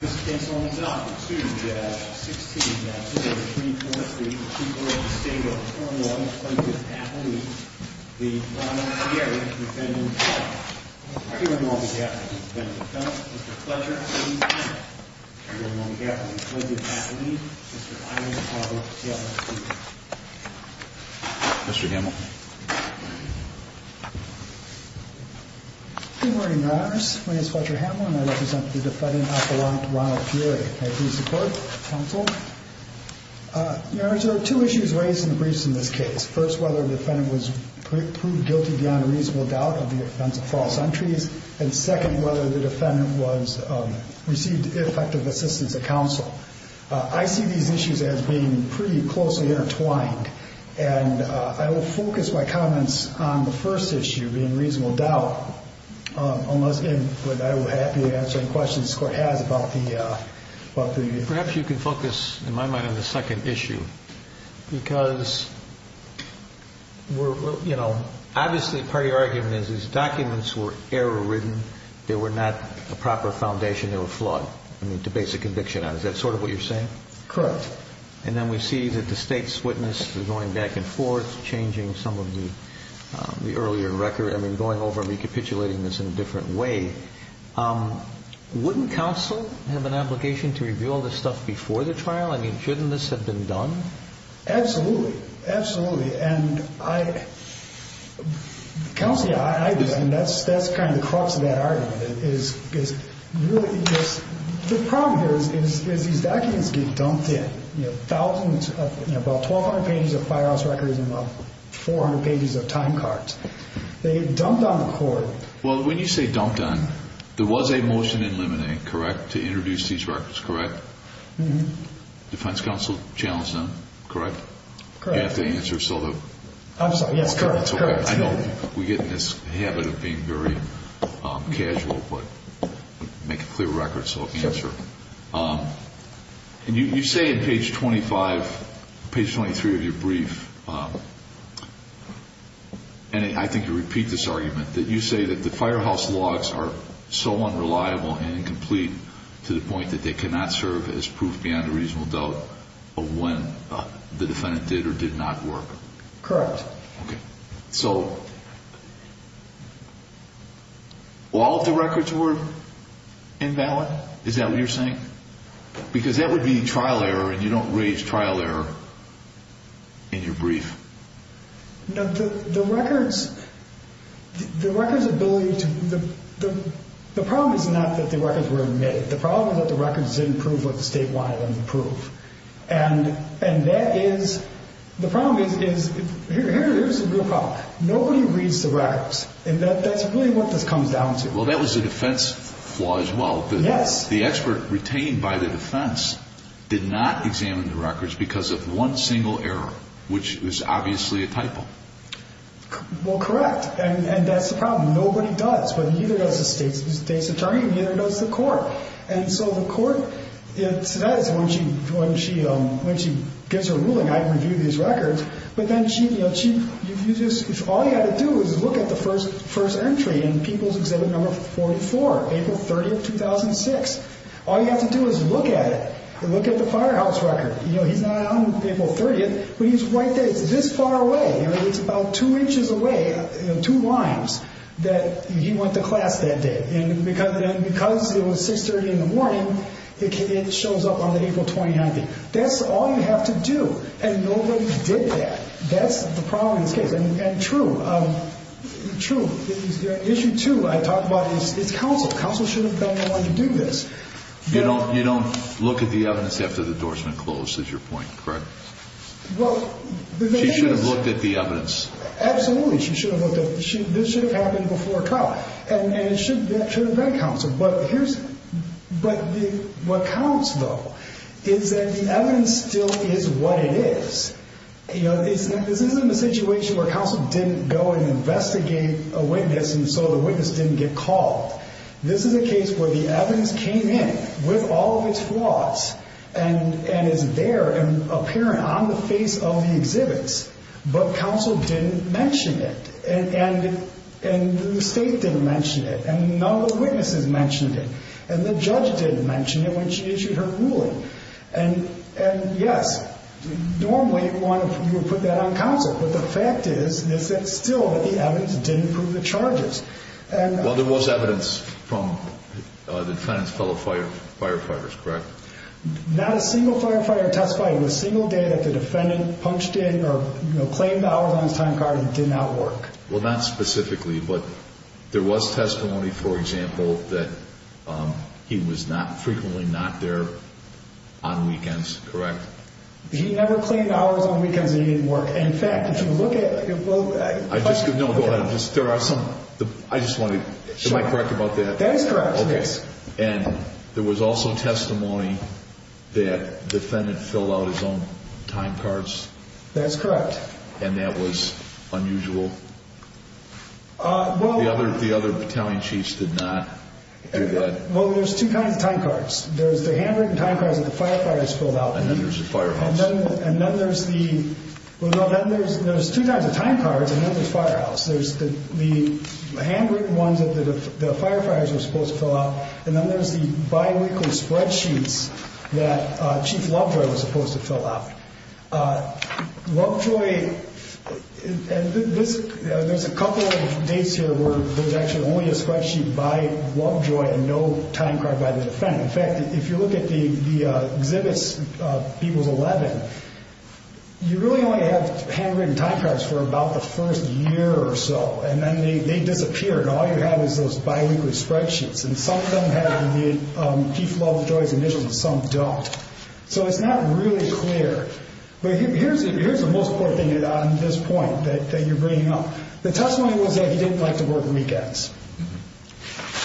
This case opens up to the 16th Supreme Court, the Supreme Court of the State of Oklahoma, plaintiff's affidavit. The defendant, Pieri, defendant of felonies. Here among the defendants is the defendant of felonies, Mr. Fletcher. Here among the defendants is the plaintiff's affidavit. Mr. Ironcobble, plaintiff's affidavit. Mr. Hamel. Good morning, Your Honors. My name is Fletcher Hamel, and I represent the defendant, Appalachian Ronald Pieri. May I please report, counsel? Your Honors, there are two issues raised in the briefs in this case. First, whether the defendant was proved guilty beyond a reasonable doubt of the offense of false entries. And second, whether the defendant received effective assistance at counsel. I see these issues as being pretty closely intertwined. And I will focus my comments on the first issue, being reasonable doubt. I will be happy to answer any questions this Court has about the defendant. Perhaps you can focus, in my mind, on the second issue. Because, you know, obviously part of your argument is these documents were error-ridden. They were not a proper foundation. They were flawed. I mean, to base a conviction on. Is that sort of what you're saying? Correct. And then we see that the state's witness is going back and forth, changing some of the earlier record. I mean, going over and recapitulating this in a different way. Wouldn't counsel have an obligation to reveal this stuff before the trial? I mean, shouldn't this have been done? Absolutely. Absolutely. Counsel, that's kind of the crux of that argument. The problem here is these documents get dumped in. About 1,200 pages of firehouse records and about 400 pages of time cards. They get dumped on the Court. Well, when you say dumped on, there was a motion in limine to introduce these records, correct? Defense counsel challenged them, correct? Correct. Do I have to answer? I'm sorry. Yes, go ahead. I know we get in this habit of being very casual, but make a clear record so I can answer. And you say in page 25, page 23 of your brief, and I think you repeat this argument, that you say that the firehouse logs are so unreliable and incomplete to the point that they cannot serve as proof beyond a reasonable doubt of when the defendant did or did not work? Correct. Okay. So all of the records were invalid? Is that what you're saying? Because that would be trial error, and you don't raise trial error in your brief. The records ability to – the problem is not that the records were made. The problem is that the records didn't prove what the State wanted them to prove. And that is – the problem is – here's a good problem. Nobody reads the records, and that's really what this comes down to. Well, that was a defense flaw as well. Yes. The expert retained by the defense did not examine the records because of one single error, which was obviously a typo. Well, correct, and that's the problem. Nobody does, but neither does the State's attorney, and neither does the court. And so the court says when she gives her ruling, I review these records, but then she – all you have to do is look at the first entry in People's Exhibit No. 44, April 30th, 2006. All you have to do is look at it and look at the firehouse record. He's not on April 30th, but he's right there. It's this far away. It's about two inches away, two lines, that he went to class that day. And because it was 6.30 in the morning, it shows up on the April 29th thing. That's all you have to do, and nobody did that. That's the problem in this case, and true. True. Issue two I talked about is counsel. Counsel shouldn't be the only one to do this. You don't look at the evidence after the doors have been closed is your point, correct? She should have looked at the evidence. Absolutely. She should have looked at – this should have happened before trial, and it should have been counsel. But here's – but what counts, though, is that the evidence still is what it is. You know, this isn't a situation where counsel didn't go and investigate a witness, and so the witness didn't get called. This is a case where the evidence came in with all of its flaws and is there and apparent on the face of the exhibits, but counsel didn't mention it, and the state didn't mention it, and none of the witnesses mentioned it, and the judge didn't mention it when she issued her ruling. And, yes, normally you would put that on counsel, but the fact is that still the evidence didn't prove the charges. Well, there was evidence from the defendant's fellow firefighters, correct? Not a single firefighter testified in a single day that the defendant punched in or claimed hours on his time card and did not work. Well, not specifically, but there was testimony, for example, that he was frequently not there on weekends, correct? He never claimed hours on weekends and he didn't work. In fact, if you look at – No, go ahead. There are some – I just wanted – am I correct about that? That is correct, yes. Okay. And there was also testimony that the defendant filled out his own time cards? That's correct. And that was unusual? Well – The other battalion chiefs did not do that? Well, there's two kinds of time cards. There's the handwritten time cards that the firefighters filled out. And then there's the firehouse. And then there's the – well, then there's two kinds of time cards, and then there's the firehouse. There's the handwritten ones that the firefighters were supposed to fill out, and then there's the biweekly spreadsheets that Chief Lovejoy was supposed to fill out. Lovejoy – there's a couple of dates here where there's actually only a spreadsheet by Lovejoy and no time card by the defendant. In fact, if you look at the exhibits, people's 11, you really only have handwritten time cards for about the first year or so. And then they disappear, and all you have is those biweekly spreadsheets. And some of them have the Chief Lovejoy's initials, and some don't. So it's not really clear. But here's the most important thing on this point that you're bringing up. The testimony was that he didn't like to work weekends.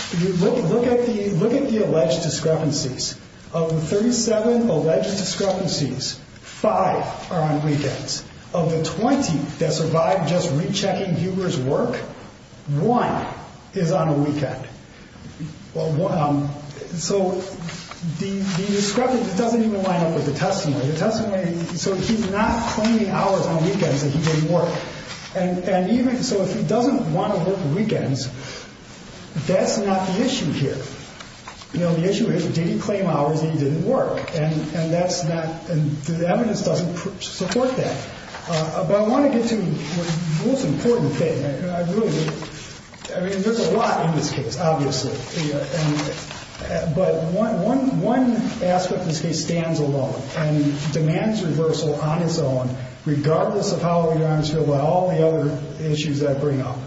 If you look at the alleged discrepancies, of the 37 alleged discrepancies, five are on weekends. Of the 20 that survived just rechecking Huber's work, one is on a weekend. So the discrepancy doesn't even line up with the testimony. The testimony – so he's not claiming hours on weekends that he didn't work. And even – so if he doesn't want to work weekends, that's not the issue here. The issue is, did he claim hours that he didn't work? And that's not – the evidence doesn't support that. But I want to get to the most important thing. I really – I mean, there's a lot in this case, obviously. But one aspect of this case stands alone and demands reversal on its own, regardless of how your arms feel about all the other issues that I bring up.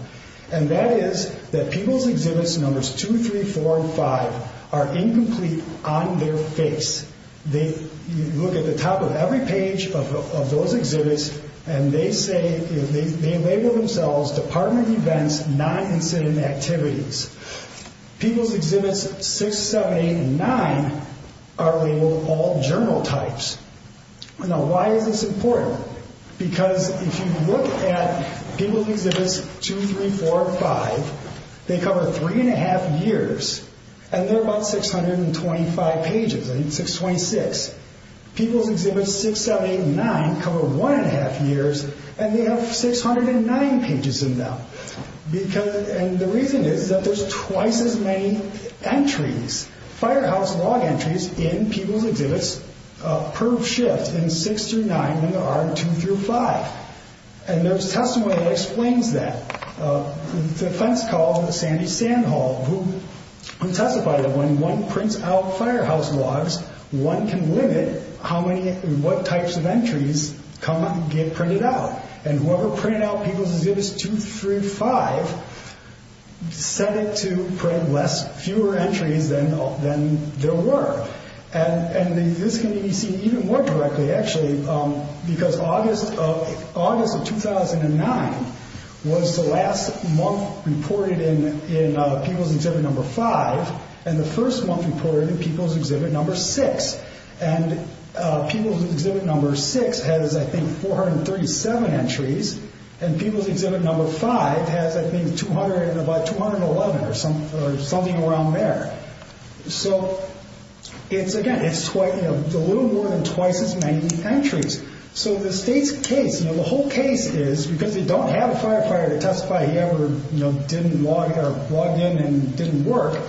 And that is that people's exhibits numbers 2, 3, 4, and 5 are incomplete on their face. They – you look at the top of every page of those exhibits, and they say – they label themselves Department of Events, Non-Incident Activities. People's Exhibits 6, 7, 8, and 9 are labeled All Journal Types. Now, why is this important? Because if you look at People's Exhibits 2, 3, 4, and 5, they cover three and a half years. And they're about 625 pages. I think it's 626. People's Exhibits 6, 7, 8, and 9 cover one and a half years, and they have 609 pages in them. Because – and the reason is that there's twice as many entries, firehouse log entries in People's Exhibits per shift in 6 through 9 than there are in 2 through 5. And there's testimony that explains that. The defense called Sandy Sandhall, who testified that when one prints out firehouse logs, one can limit how many – what types of entries come – get printed out. And whoever printed out People's Exhibits 2, 3, and 5 set it to print less – fewer entries than there were. And this can be seen even more directly, actually, because August of – August of 2009 was the last month reported in People's Exhibit number 5, and the first month reported in People's Exhibit number 6. And People's Exhibit number 6 has, I think, 437 entries, and People's Exhibit number 5 has, I think, about 211 or something around there. So it's – again, it's a little more than twice as many entries. So the state's case – now, the whole case is, because they don't have a firefighter to testify, he ever, you know, didn't log – or logged in and didn't work,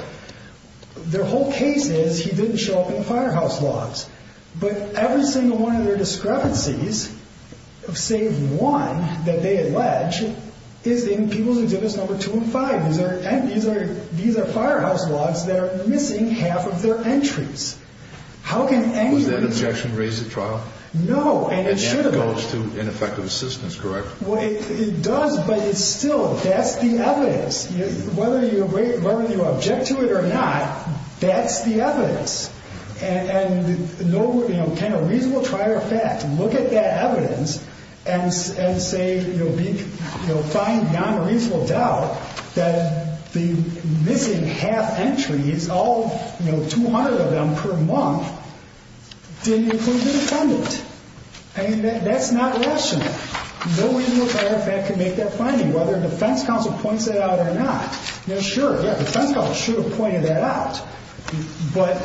their whole case is he didn't show up in the firehouse logs. But every single one of their discrepancies, save one that they allege, is in People's Exhibits number 2 and 5. These are – these are firehouse logs that are missing half of their entries. How can anyone – Was that objection raised at trial? No, and it should have been. And that goes to ineffective assistance, correct? Well, it does, but it's still – that's the evidence. Whether you – whether you object to it or not, that's the evidence. And no – you know, can a reasonable trier of fact look at that evidence and say, you know, find beyond a reasonable doubt that the missing half entries, all, you know, 200 of them per month, didn't include the defendant? I mean, that's not rational. No reasonable trier of fact can make that finding, whether a defense counsel points that out or not. Now, sure, yeah, the defense counsel should have pointed that out. But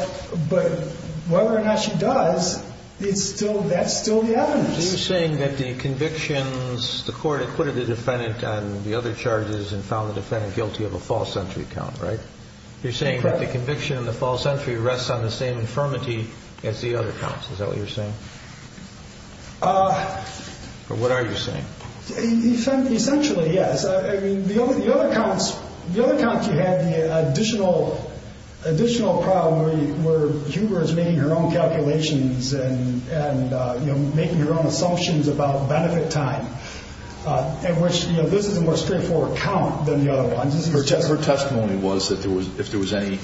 whether or not she does, it's still – that's still the evidence. So you're saying that the convictions – the court acquitted the defendant on the other charges and found the defendant guilty of a false entry count, right? Correct. You're saying that the conviction of the false entry rests on the same infirmity as the other counts. Is that what you're saying? Or what are you saying? Essentially, yes. I mean, the other counts – the other counts you had the additional problem where you were making your own calculations and, you know, making your own assumptions about benefit time, in which, you know, this is a more straightforward count than the other ones. Her testimony was that if there was any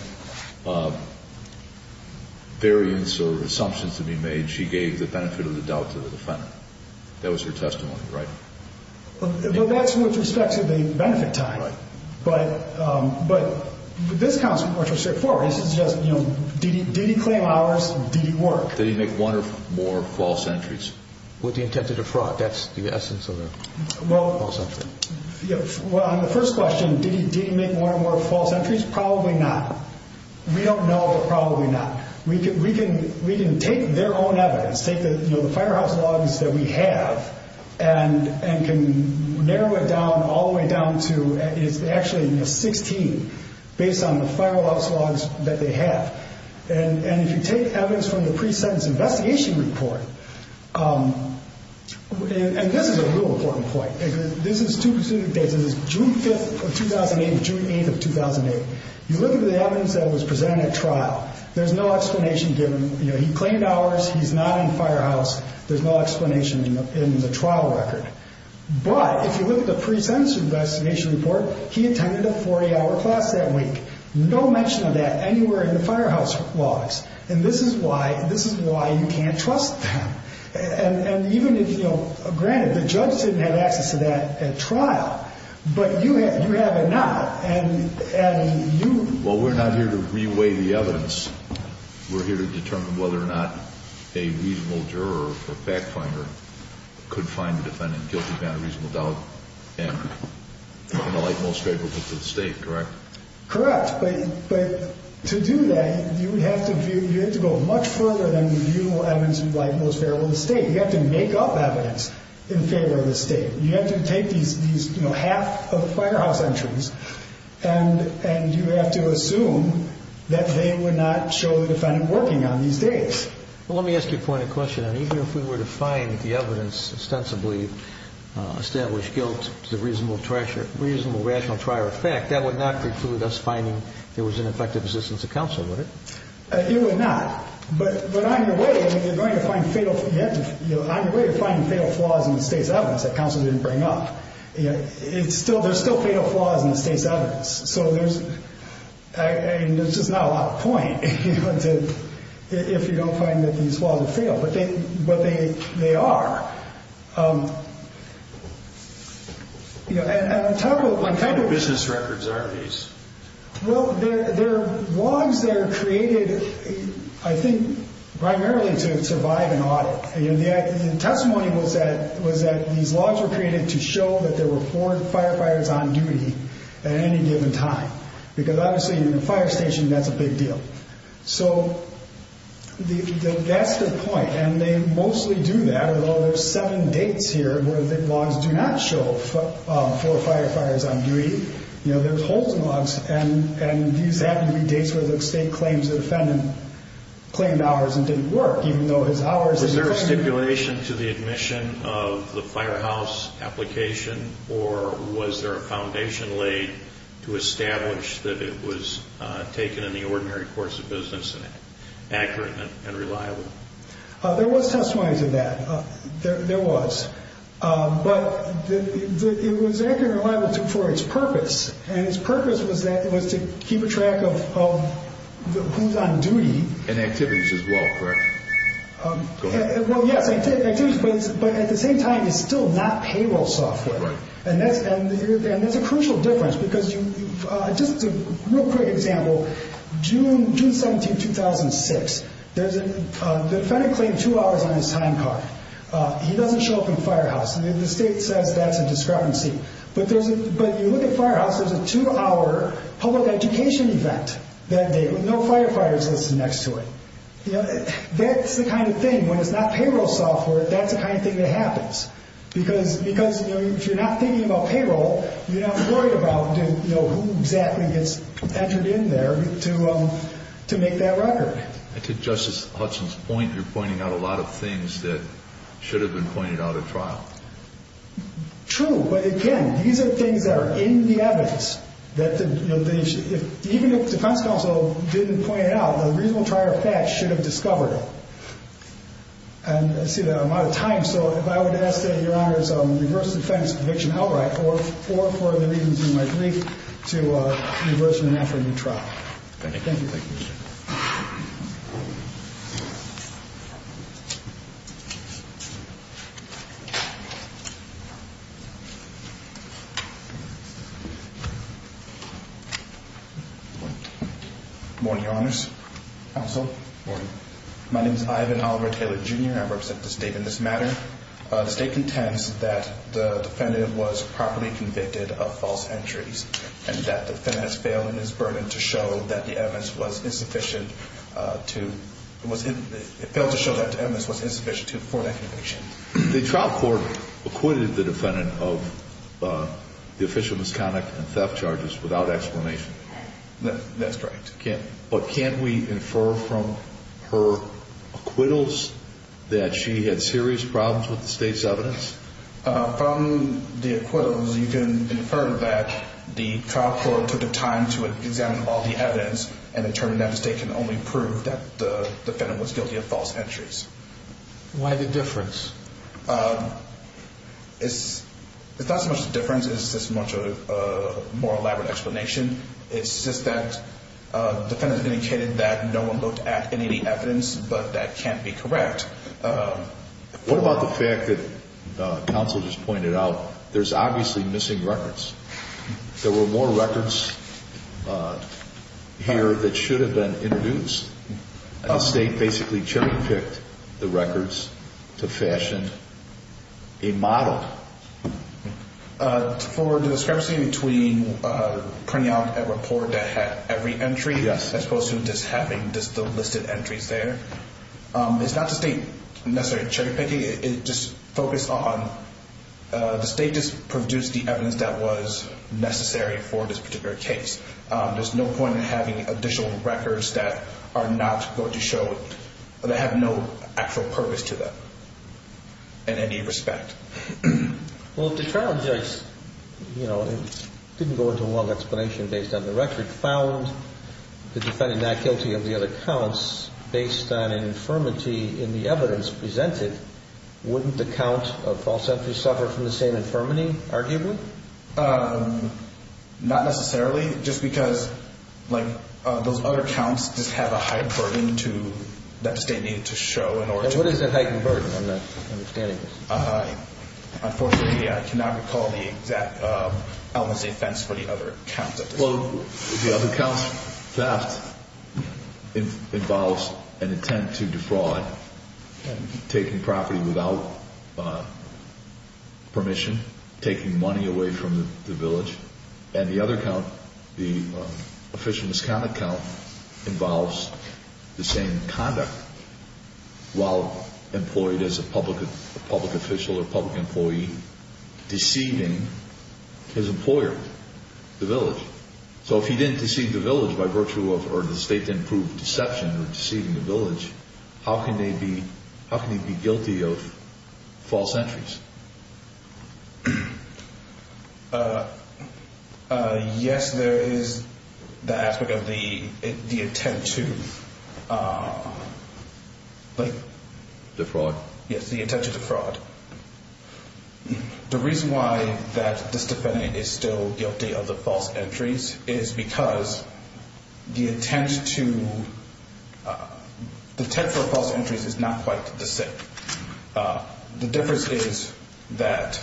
variance or assumptions to be made, she gave the benefit of the doubt to the defendant. That was her testimony, right? But that's with respect to the benefit time. Right. But this counts are more straightforward. This is just, you know, did he claim hours? Did he work? Did he make one or more false entries? With the intent to defraud. That's the essence of a false entry. Well, on the first question, did he make one or more false entries? Probably not. We don't know, but probably not. We can take their own evidence, take the firehouse logs that we have, and can narrow it down all the way down to – it's actually 16 based on the firehouse logs that they have. And if you take evidence from the pre-sentence investigation report – and this is a real important point. This is June 5th of 2008 to June 8th of 2008. You look at the evidence that was presented at trial, there's no explanation given. He claimed hours. He's not in the firehouse. There's no explanation in the trial record. But if you look at the pre-sentence investigation report, he attended a 40-hour class that week. No mention of that anywhere in the firehouse logs. And this is why you can't trust them. And even if – granted, the judge didn't have access to that at trial, but you have it now. And you – Well, we're not here to re-weigh the evidence. We're here to determine whether or not a reasonable juror or fact finder could find the defendant guilty without a reasonable doubt and in the light most favorable to the State, correct? Correct. But to do that, you would have to view – in favor of the State. You have to make up evidence in favor of the State. You have to take these, you know, half of the firehouse entries and you have to assume that they would not show the defendant working on these days. Well, let me ask you a point of question. Even if we were to find the evidence ostensibly established guilt to the reasonable rational trier of fact, that would not preclude us finding there was an effective assistance of counsel, would it? It would not. But on your way, you're going to find fatal – you have to – on your way to finding fatal flaws in the State's evidence that counsel didn't bring up, there's still fatal flaws in the State's evidence. So there's – I mean, there's just not a lot of point, you know, if you don't find that these flaws are fatal. But they are. And I'm talking about – What kind of business records are these? Well, they're logs that are created, I think, primarily to survive an audit. The testimony was that these logs were created to show that there were four firefighters on duty at any given time. Because obviously in a fire station, that's a big deal. So that's the point. And they mostly do that, although there's seven dates here where the logs do not show four firefighters on duty. You know, there's holes in logs. And these have to be dates where the State claims the defendant claimed hours and didn't work, even though his hours – Was there a stipulation to the admission of the firehouse application, or was there a foundation laid to establish that it was taken in the ordinary course of business and accurate and reliable? There was testimony to that. There was. But it was accurate and reliable for its purpose. And its purpose was to keep track of who's on duty. And activities as well, correct? Well, yes, activities. But at the same time, it's still not payroll software. And that's a crucial difference. Because just a real quick example, June 17, 2006, the defendant claimed two hours on his time card. He doesn't show up in the firehouse. The State says that's a discrepancy. But you look at firehouse, there's a two-hour public education event that day. No firefighters listen next to it. That's the kind of thing, when it's not payroll software, that's the kind of thing that happens. Because if you're not thinking about payroll, you're not worried about who exactly gets entered in there to make that record. And to Justice Hudson's point, you're pointing out a lot of things that should have been pointed out at trial. True. But, again, these are things that are in the evidence. Even if the defense counsel didn't point it out, a reasonable trial fact should have discovered it. And I see that I'm out of time. So if I would ask that Your Honor's reverse defense conviction outright or for the reasons in my brief to reverse it and ask for a new trial. Thank you. Thank you, sir. Good morning, Your Honors. Counsel. Good morning. My name is Ivan Oliver Taylor, Jr. I represent the State in this matter. The State contends that the defendant was properly convicted of false entries and that the defendant has failed in his burden to show that the evidence was insufficient to before that conviction. The trial court acquitted the defendant of the official misconduct and theft charges without explanation. That's right. But can we infer from her acquittals that she had serious problems with the State's evidence? From the acquittals, you can infer that the trial court took the time to examine all the evidence and determined that the State can only prove that the defendant was guilty of false entries. Why the difference? It's not so much the difference. It's just much a more elaborate explanation. It's just that the defendant indicated that no one looked at any of the evidence, but that can't be correct. What about the fact that counsel just pointed out there's obviously missing records? There were more records here that should have been introduced. The State basically cherry-picked the records to fashion a model. For the discrepancy between printing out a report that had every entry, as opposed to just having just the listed entries there, it's not the State necessarily cherry-picking. It just focused on the State just produced the evidence that was necessary for this particular case. There's no point in having additional records that are not going to show, that have no actual purpose to them in any respect. Well, the trial judge didn't go into one explanation based on the record, and found the defendant not guilty of the other counts based on infirmity in the evidence presented. Wouldn't the count of false entries suffer from the same infirmity, arguably? Not necessarily, just because those other counts just have a heightened burden that the State needed to show. And what is that heightened burden? I'm not understanding this. Unfortunately, I cannot recall the exact elements of the offense for the other counts. Well, the other counts, theft involves an intent to defraud, taking property without permission, taking money away from the village. And the other count, the official misconduct count, involves the same conduct while employed as a public official or public employee, deceiving his employer, the village. So if he didn't deceive the village by virtue of, or the State didn't prove deception in deceiving the village, how can he be guilty of false entries? Yes, there is the aspect of the intent to... Defraud? Yes, the intent to defraud. The reason why that this defendant is still guilty of the false entries is because the intent for false entries is not quite the same. The difference is that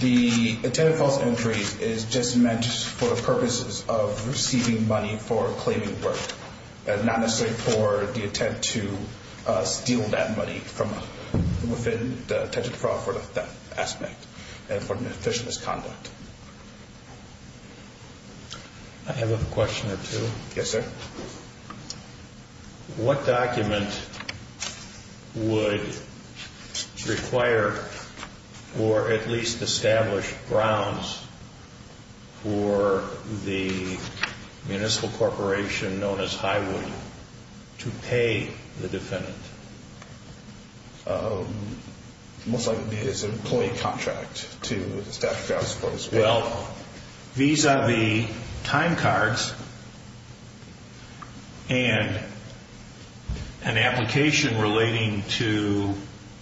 the intent of false entries is just meant for the purposes of receiving money for claiming work and not necessarily for the intent to steal that money from within the intent to defraud for the theft aspect and for an official misconduct. I have a question or two. Yes, sir. What document would require or at least establish grounds for the municipal corporation known as Highwood to pay the defendant? Most likely it's an employee contract to establish that as well. These are the time cards and an application relating to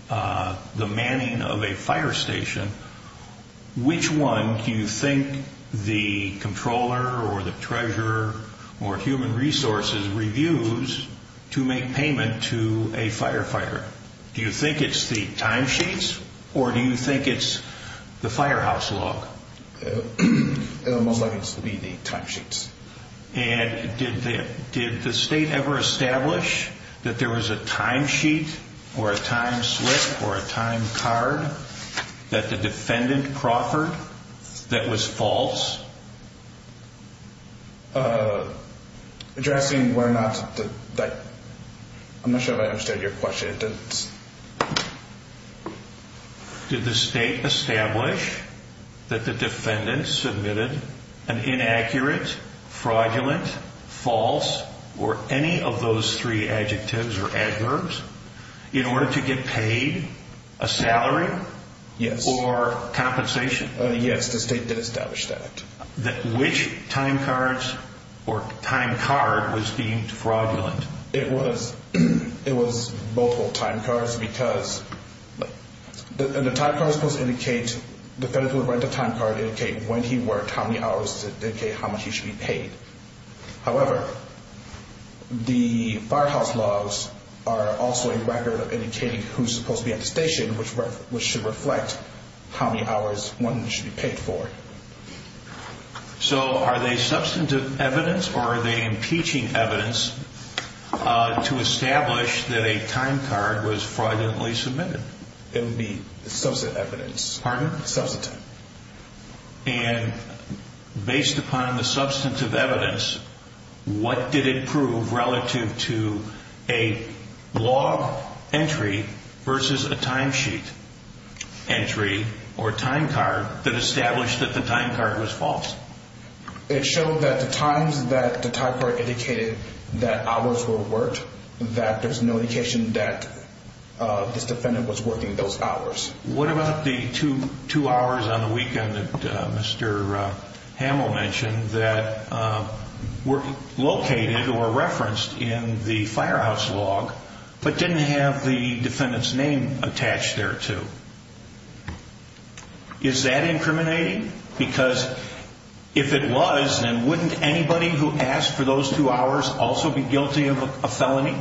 the manning of a fire station. Which one do you think the controller or the treasurer or human resources reviews to make payment to a firefighter? Do you think it's the timesheets or do you think it's the firehouse log? Most likely it would be the timesheets. Did the state ever establish that there was a timesheet or a timeslip or a time card that the defendant proffered that was false? I'm not sure if I understood your question. Did the state establish that the defendant submitted an inaccurate, fraudulent, false or any of those three adjectives or adverbs in order to get paid a salary or compensation? Yes, the state did establish that. Which time cards or time card was deemed fraudulent? It was multiple time cards because the time card was supposed to indicate, the defendant would write the time card to indicate when he worked, how many hours, to indicate how much he should be paid. However, the firehouse logs are also a record of indicating who's supposed to be at the station, which should reflect how many hours one should be paid for. So are they substantive evidence or are they impeaching evidence to establish that a time card was fraudulently submitted? It would be substantive evidence. Pardon? Substantive. And based upon the substantive evidence, what did it prove relative to a log entry versus a timesheet entry or time card that established that the time card was false? It showed that the times that the time card indicated that hours were worked, that there's no indication that this defendant was working those hours. What about the two hours on the weekend that Mr. Hamill mentioned that were located or referenced in the firehouse log but didn't have the defendant's name attached there to? Is that incriminating? Because if it was, then wouldn't anybody who asked for those two hours also be guilty of a felony?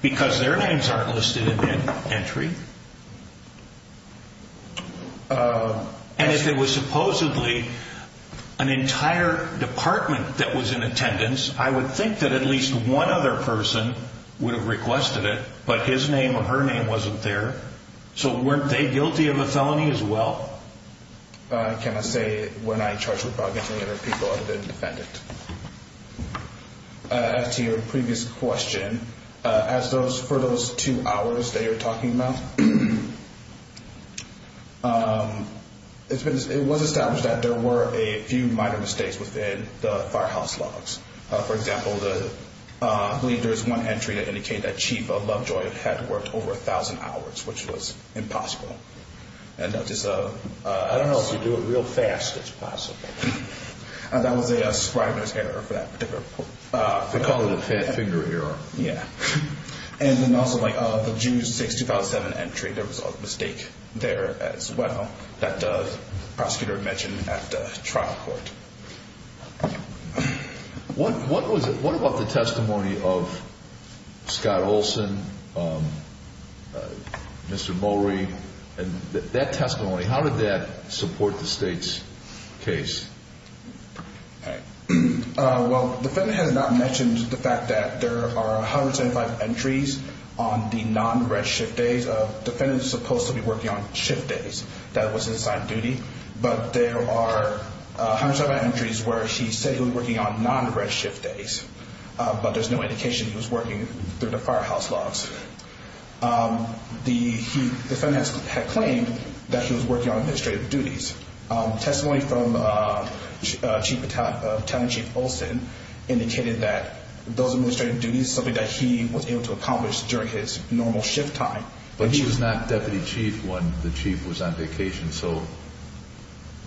Because their names aren't listed in the entry. And if it was supposedly an entire department that was in attendance, I would think that at least one other person would have requested it, but his name or her name wasn't there. So weren't they guilty of a felony as well? I cannot say. We're not in charge of the property and other people other than the defendant. To your previous question, for those two hours that you're talking about, it was established that there were a few minor mistakes within the firehouse logs. For example, I believe there was one entry that indicated that Chief Lovejoy had worked over 1,000 hours, which was impossible. I don't know if you do it real fast, it's possible. That was a scribe's error for that particular report. We call it a fat finger error. Yeah. And then also the June 6, 2007 entry, there was a mistake there as well that the prosecutor mentioned at the trial court. What about the testimony of Scott Olson, Mr. Mowrey? That testimony, how did that support the state's case? Well, the defendant has not mentioned the fact that there are 175 entries on the non-redshift days. The defendant is supposed to be working on shift days. That was his assigned duty. But there are 175 entries where he said he was working on non-redshift days, but there's no indication he was working through the firehouse logs. The defendant had claimed that he was working on administrative duties. Testimony from Battalion Chief Olson indicated that those administrative duties is something that he was able to accomplish during his normal shift time. But he was not deputy chief when the chief was on vacation, so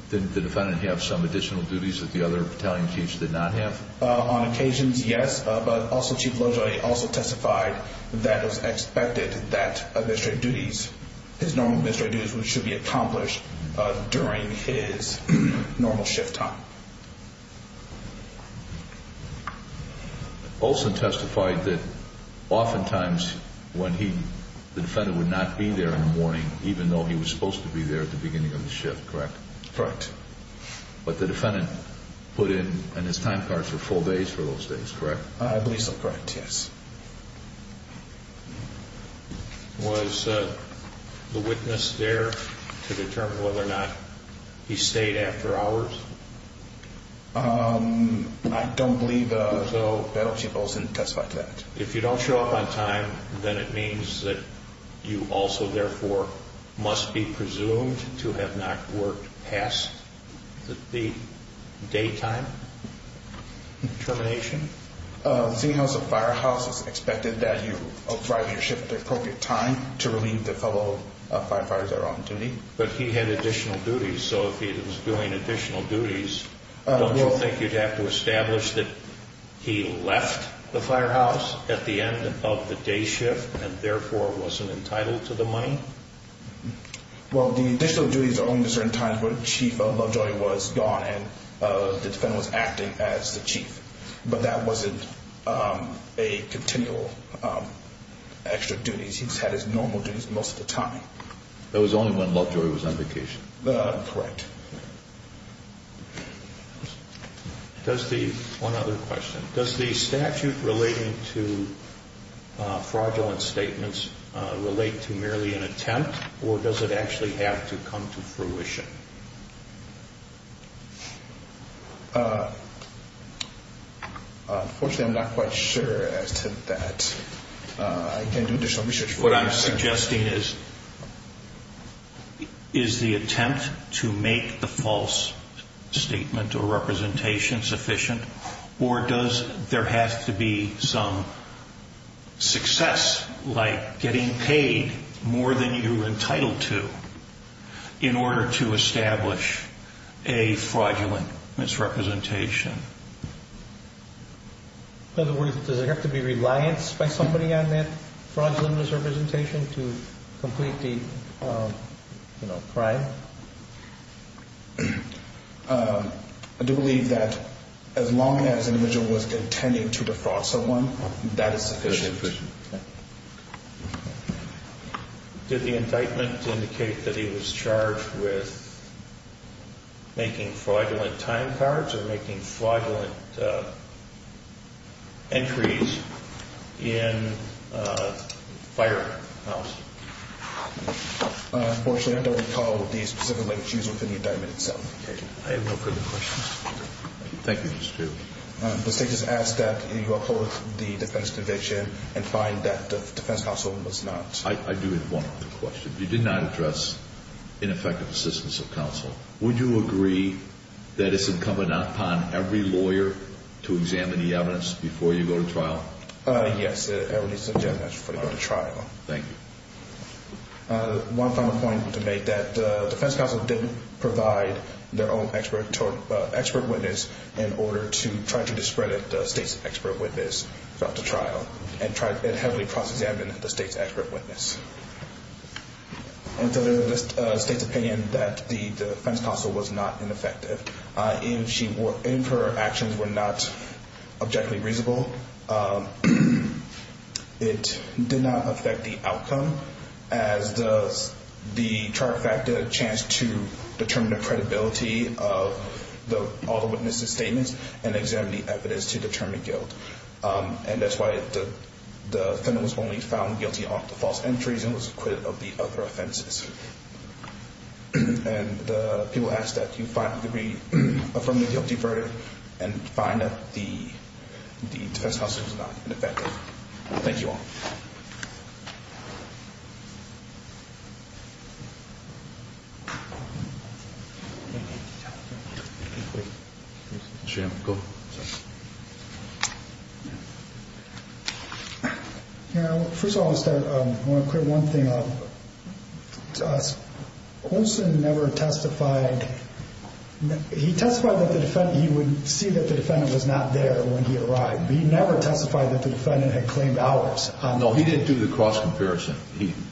didn't the defendant have some additional duties that the other battalion chiefs did not have? On occasions, yes, but also Chief Lovejoy also testified that it was expected that his normal administrative duties should be accomplished during his normal shift time. Olson testified that oftentimes the defendant would not be there in the morning even though he was supposed to be there at the beginning of the shift, correct? Correct. But the defendant put in his time cards for full days for those days, correct? I believe so, correct, yes. Was the witness there to determine whether or not he stayed after hours? I don't believe so. Battalion Chief Olson testified to that. If you don't show up on time, then it means that you also, therefore, must be presumed to have not worked past the daytime termination. Seeing as the firehouse is expected that you arrive at your shift at the appropriate time to relieve the fellow firefighters that are on duty. But he had additional duties, so if he was doing additional duties, don't you think you'd have to establish that he left the firehouse at the end of the day shift and, therefore, wasn't entitled to the money? Well, the additional duties are only at certain times when Chief Lovejoy was gone and the defendant was acting as the chief. But that wasn't a continual extra duty. He just had his normal duties most of the time. That was only when Lovejoy was on vacation. Correct. One other question. Does the statute relating to fraudulent statements relate to merely an attempt or does it actually have to come to fruition? Unfortunately, I'm not quite sure as to that. I can do additional research. What I'm suggesting is, is the attempt to make the false statement or representation sufficient or does there have to be some success like getting paid more than you're entitled to in order to establish a fraudulent misrepresentation? In other words, does there have to be reliance by somebody on that fraudulent misrepresentation to complete the crime? I do believe that as long as an individual was intending to defraud someone, that is sufficient. Did the indictment indicate that he was charged with making fraudulent time cards or making fraudulent entries in a firehouse? Unfortunately, I don't recall the specific language used within the indictment itself. I have no further questions. Thank you, Mr. Chiu. The state has asked that you uphold the defense conviction and find that the defense counsel must not. I do have one other question. You did not address ineffective assistance of counsel. Would you agree that it's incumbent upon every lawyer to examine the evidence before you go to trial? Yes, I would suggest that before you go to trial. Thank you. One final point to make, that the defense counsel didn't provide their own expert witness in order to try to discredit the state's expert witness throughout the trial and heavily process the evidence of the state's expert witness. And so there is the state's opinion that the defense counsel was not ineffective. If her actions were not objectively reasonable, it did not affect the outcome as does the trial factor chance to determine the credibility of all the witnesses' statements and examine the evidence to determine guilt. And that's why the defendant was only found guilty of the false entries and was acquitted of the other offenses. And people ask that you find a degree from the guilty verdict and find that the defense counsel was not ineffective. Thank you all. First of all, I want to clear one thing up. Olson never testified. He testified that he would see that the defendant was not there when he arrived. He never testified that the defendant had claimed hours. No, he didn't do the cross-comparison.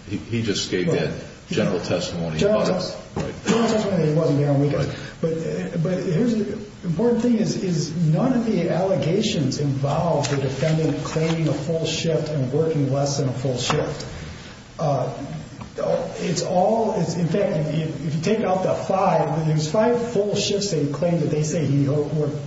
He just gave that general testimony. General testimony, he wasn't there on weekends. But the important thing is none of the allegations involve the defendant claiming a full shift and working less than a full shift. It's all, in fact, if you take out the five, there's five full shifts that he claimed that they say he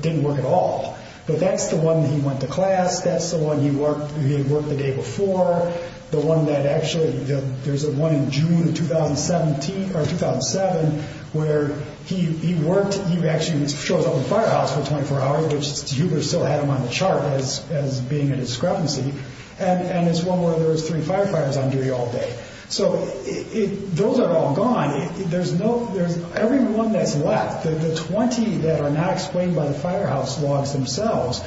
didn't work at all. But that's the one he went to class. That's the one he worked the day before. The one that actually, there's one in June of 2007 where he worked, he actually shows up in the firehouse for 24 hours, which Huber still had him on the chart as being a discrepancy. And it's one where there was three firefighters on duty all day. So those are all gone. There's no, there's, every one that's left, the 20 that are not explained by the firehouse logs themselves,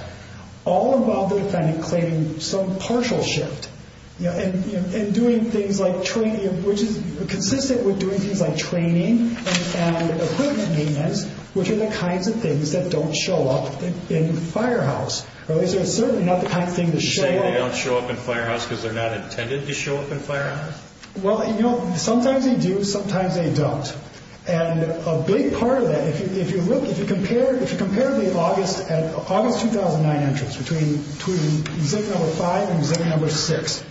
all about the defendant claiming some partial shift and doing things like training, which is consistent with doing things like training and equipment maintenance, which are the kinds of things that don't show up in the firehouse. Or at least they're certainly not the kind of thing to show up. You're saying they don't show up in the firehouse because they're not intended to show up in the firehouse? Well, you know, sometimes they do, sometimes they don't. And a big part of that, if you look, if you compare the August 2009 entries between exhibit number five and exhibit number six,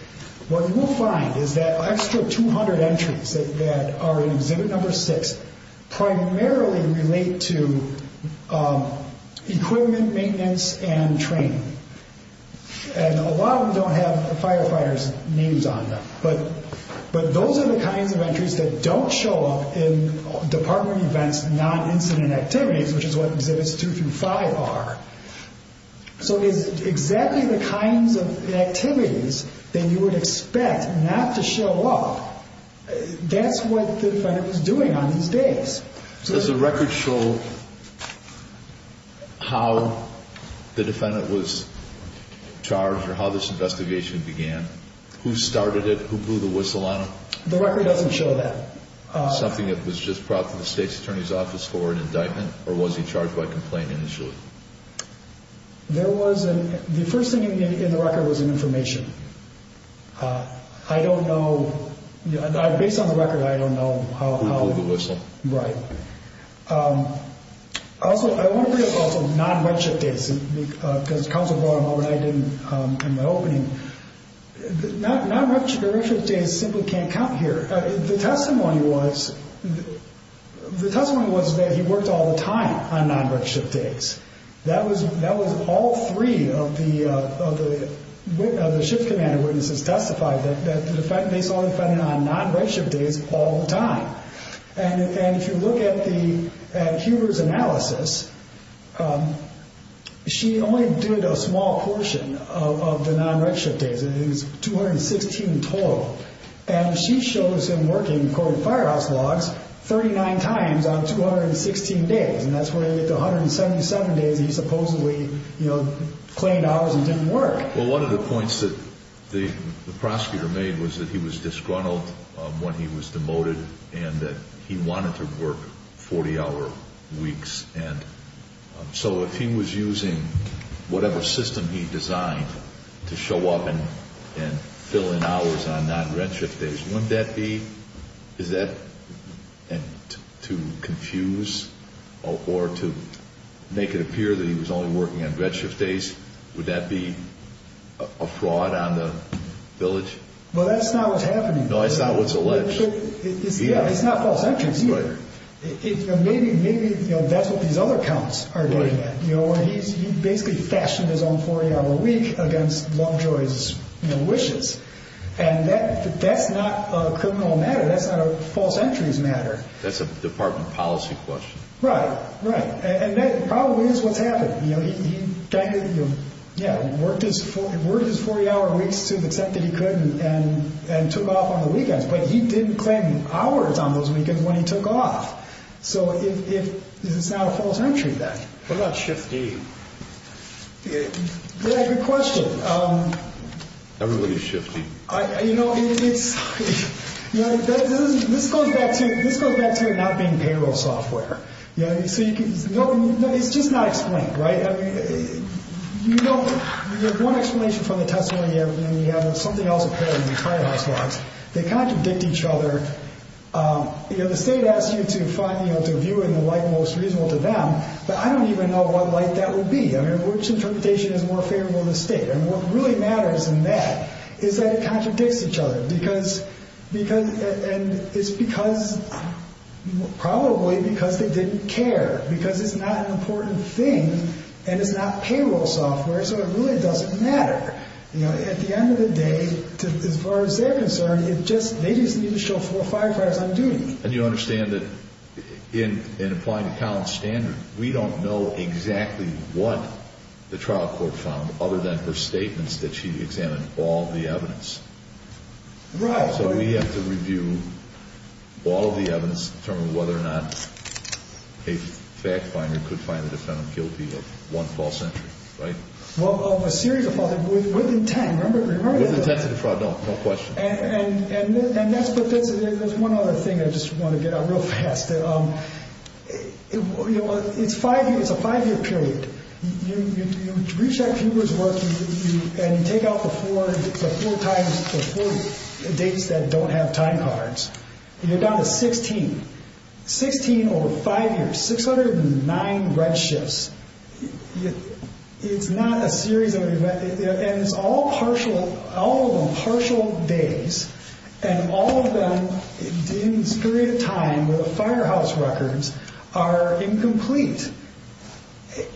what you will find is that an extra 200 entries that are in exhibit number six primarily relate to equipment maintenance and training. And a lot of them don't have the firefighters' names on them. But those are the kinds of entries that don't show up in department events, non-incident activities, which is what exhibits two through five are. So it's exactly the kinds of activities that you would expect not to show up. That's what the defendant was doing on these days. Does the record show how the defendant was charged or how this investigation began? Who started it? Who blew the whistle on him? The record doesn't show that. Something that was just brought to the state's attorney's office for an indictment? Or was he charged by complaint initially? The first thing in the record was an information. I don't know. Based on the record, I don't know how. Who blew the whistle. Right. Also, I want to bring up also non-redshift days. Because counsel brought them up in the opening. Non-redshift days simply can't count here. The testimony was that he worked all the time on non-redshift days. That was all three of the shift commander witnesses testified, that the defendant is only defending on non-redshift days all the time. If you look at Huber's analysis, she only did a small portion of the non-redshift days. It was 216 total. She shows him working cold firehouse logs 39 times on 216 days. That's where you get the 177 days he supposedly claimed hours and didn't work. Well, one of the points that the prosecutor made was that he was disgruntled when he was demoted and that he wanted to work 40-hour weeks. And so if he was using whatever system he designed to show up and fill in hours on non-redshift days, wouldn't that be, is that to confuse or to make it appear that he was only working on redshift days? Would that be a fraud on the village? Well, that's not what's happening. No, it's not what's alleged. It's not false entries either. Maybe that's what these other counts are getting at. He basically fashioned his own 40-hour week against Longjoy's wishes. And that's not a criminal matter. That's not a false entries matter. That's a department policy question. Right, right. And that probably is what's happening. He worked his 40-hour weeks to the extent that he could and took off on the weekends, but he didn't claim hours on those weekends when he took off. So it's not a false entry then. What about shift D? Yeah, good question. Everybody's shifting. You know, this goes back to not being payroll software. No, it's just not explained, right? I mean, you don't get one explanation from the testimony, and then you have something else appearing in the trial house logs. They contradict each other. You know, the state asks you to view it in the light most reasonable to them, but I don't even know what light that would be. I mean, which interpretation is more favorable to the state? And what really matters in that is that it contradicts each other, and it's probably because they didn't care, because it's not an important thing and it's not payroll software, so it really doesn't matter. At the end of the day, as far as they're concerned, they just need to show firefighters on duty. And you understand that in applying to Collin's standard, we don't know exactly what the trial court found, other than her statements that she examined all the evidence. Right. So we have to review all of the evidence to determine whether or not a fact finder could find the defendant guilty of one false entry, right? Well, of a series of false entries within 10, remember? Within 10 to defraud, no question. And that's what this is. There's one other thing I just want to get at real fast. You know, it's a five-year period. You reach out to Hubert's work and you take out the four dates that don't have time cards, and you're down to 16. 16 over five years. 609 redshifts. It's not a series of events. And it's all partial, all of them partial days, and all of them in this period of time where the firehouse records are incomplete.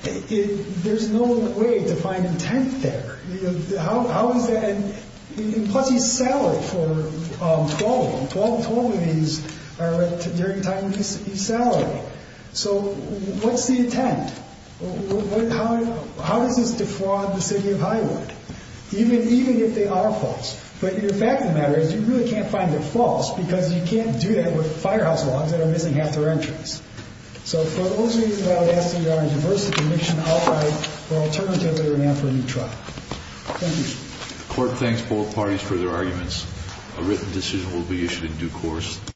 There's no way to find intent there. How is that? Plus, he's salaried for 12. 12 of these are during the time he's salaried. So what's the intent? How does this defraud the city of Highwood, even if they are false? But the fact of the matter is you really can't find it false because you can't do that with firehouse logs that are missing half their entries. So for those reasons, I would ask that you give our diversity commission outright, or alternatively, we're going to have to have a new trial. Thank you. The court thanks both parties for their arguments. A written decision will be issued in due course.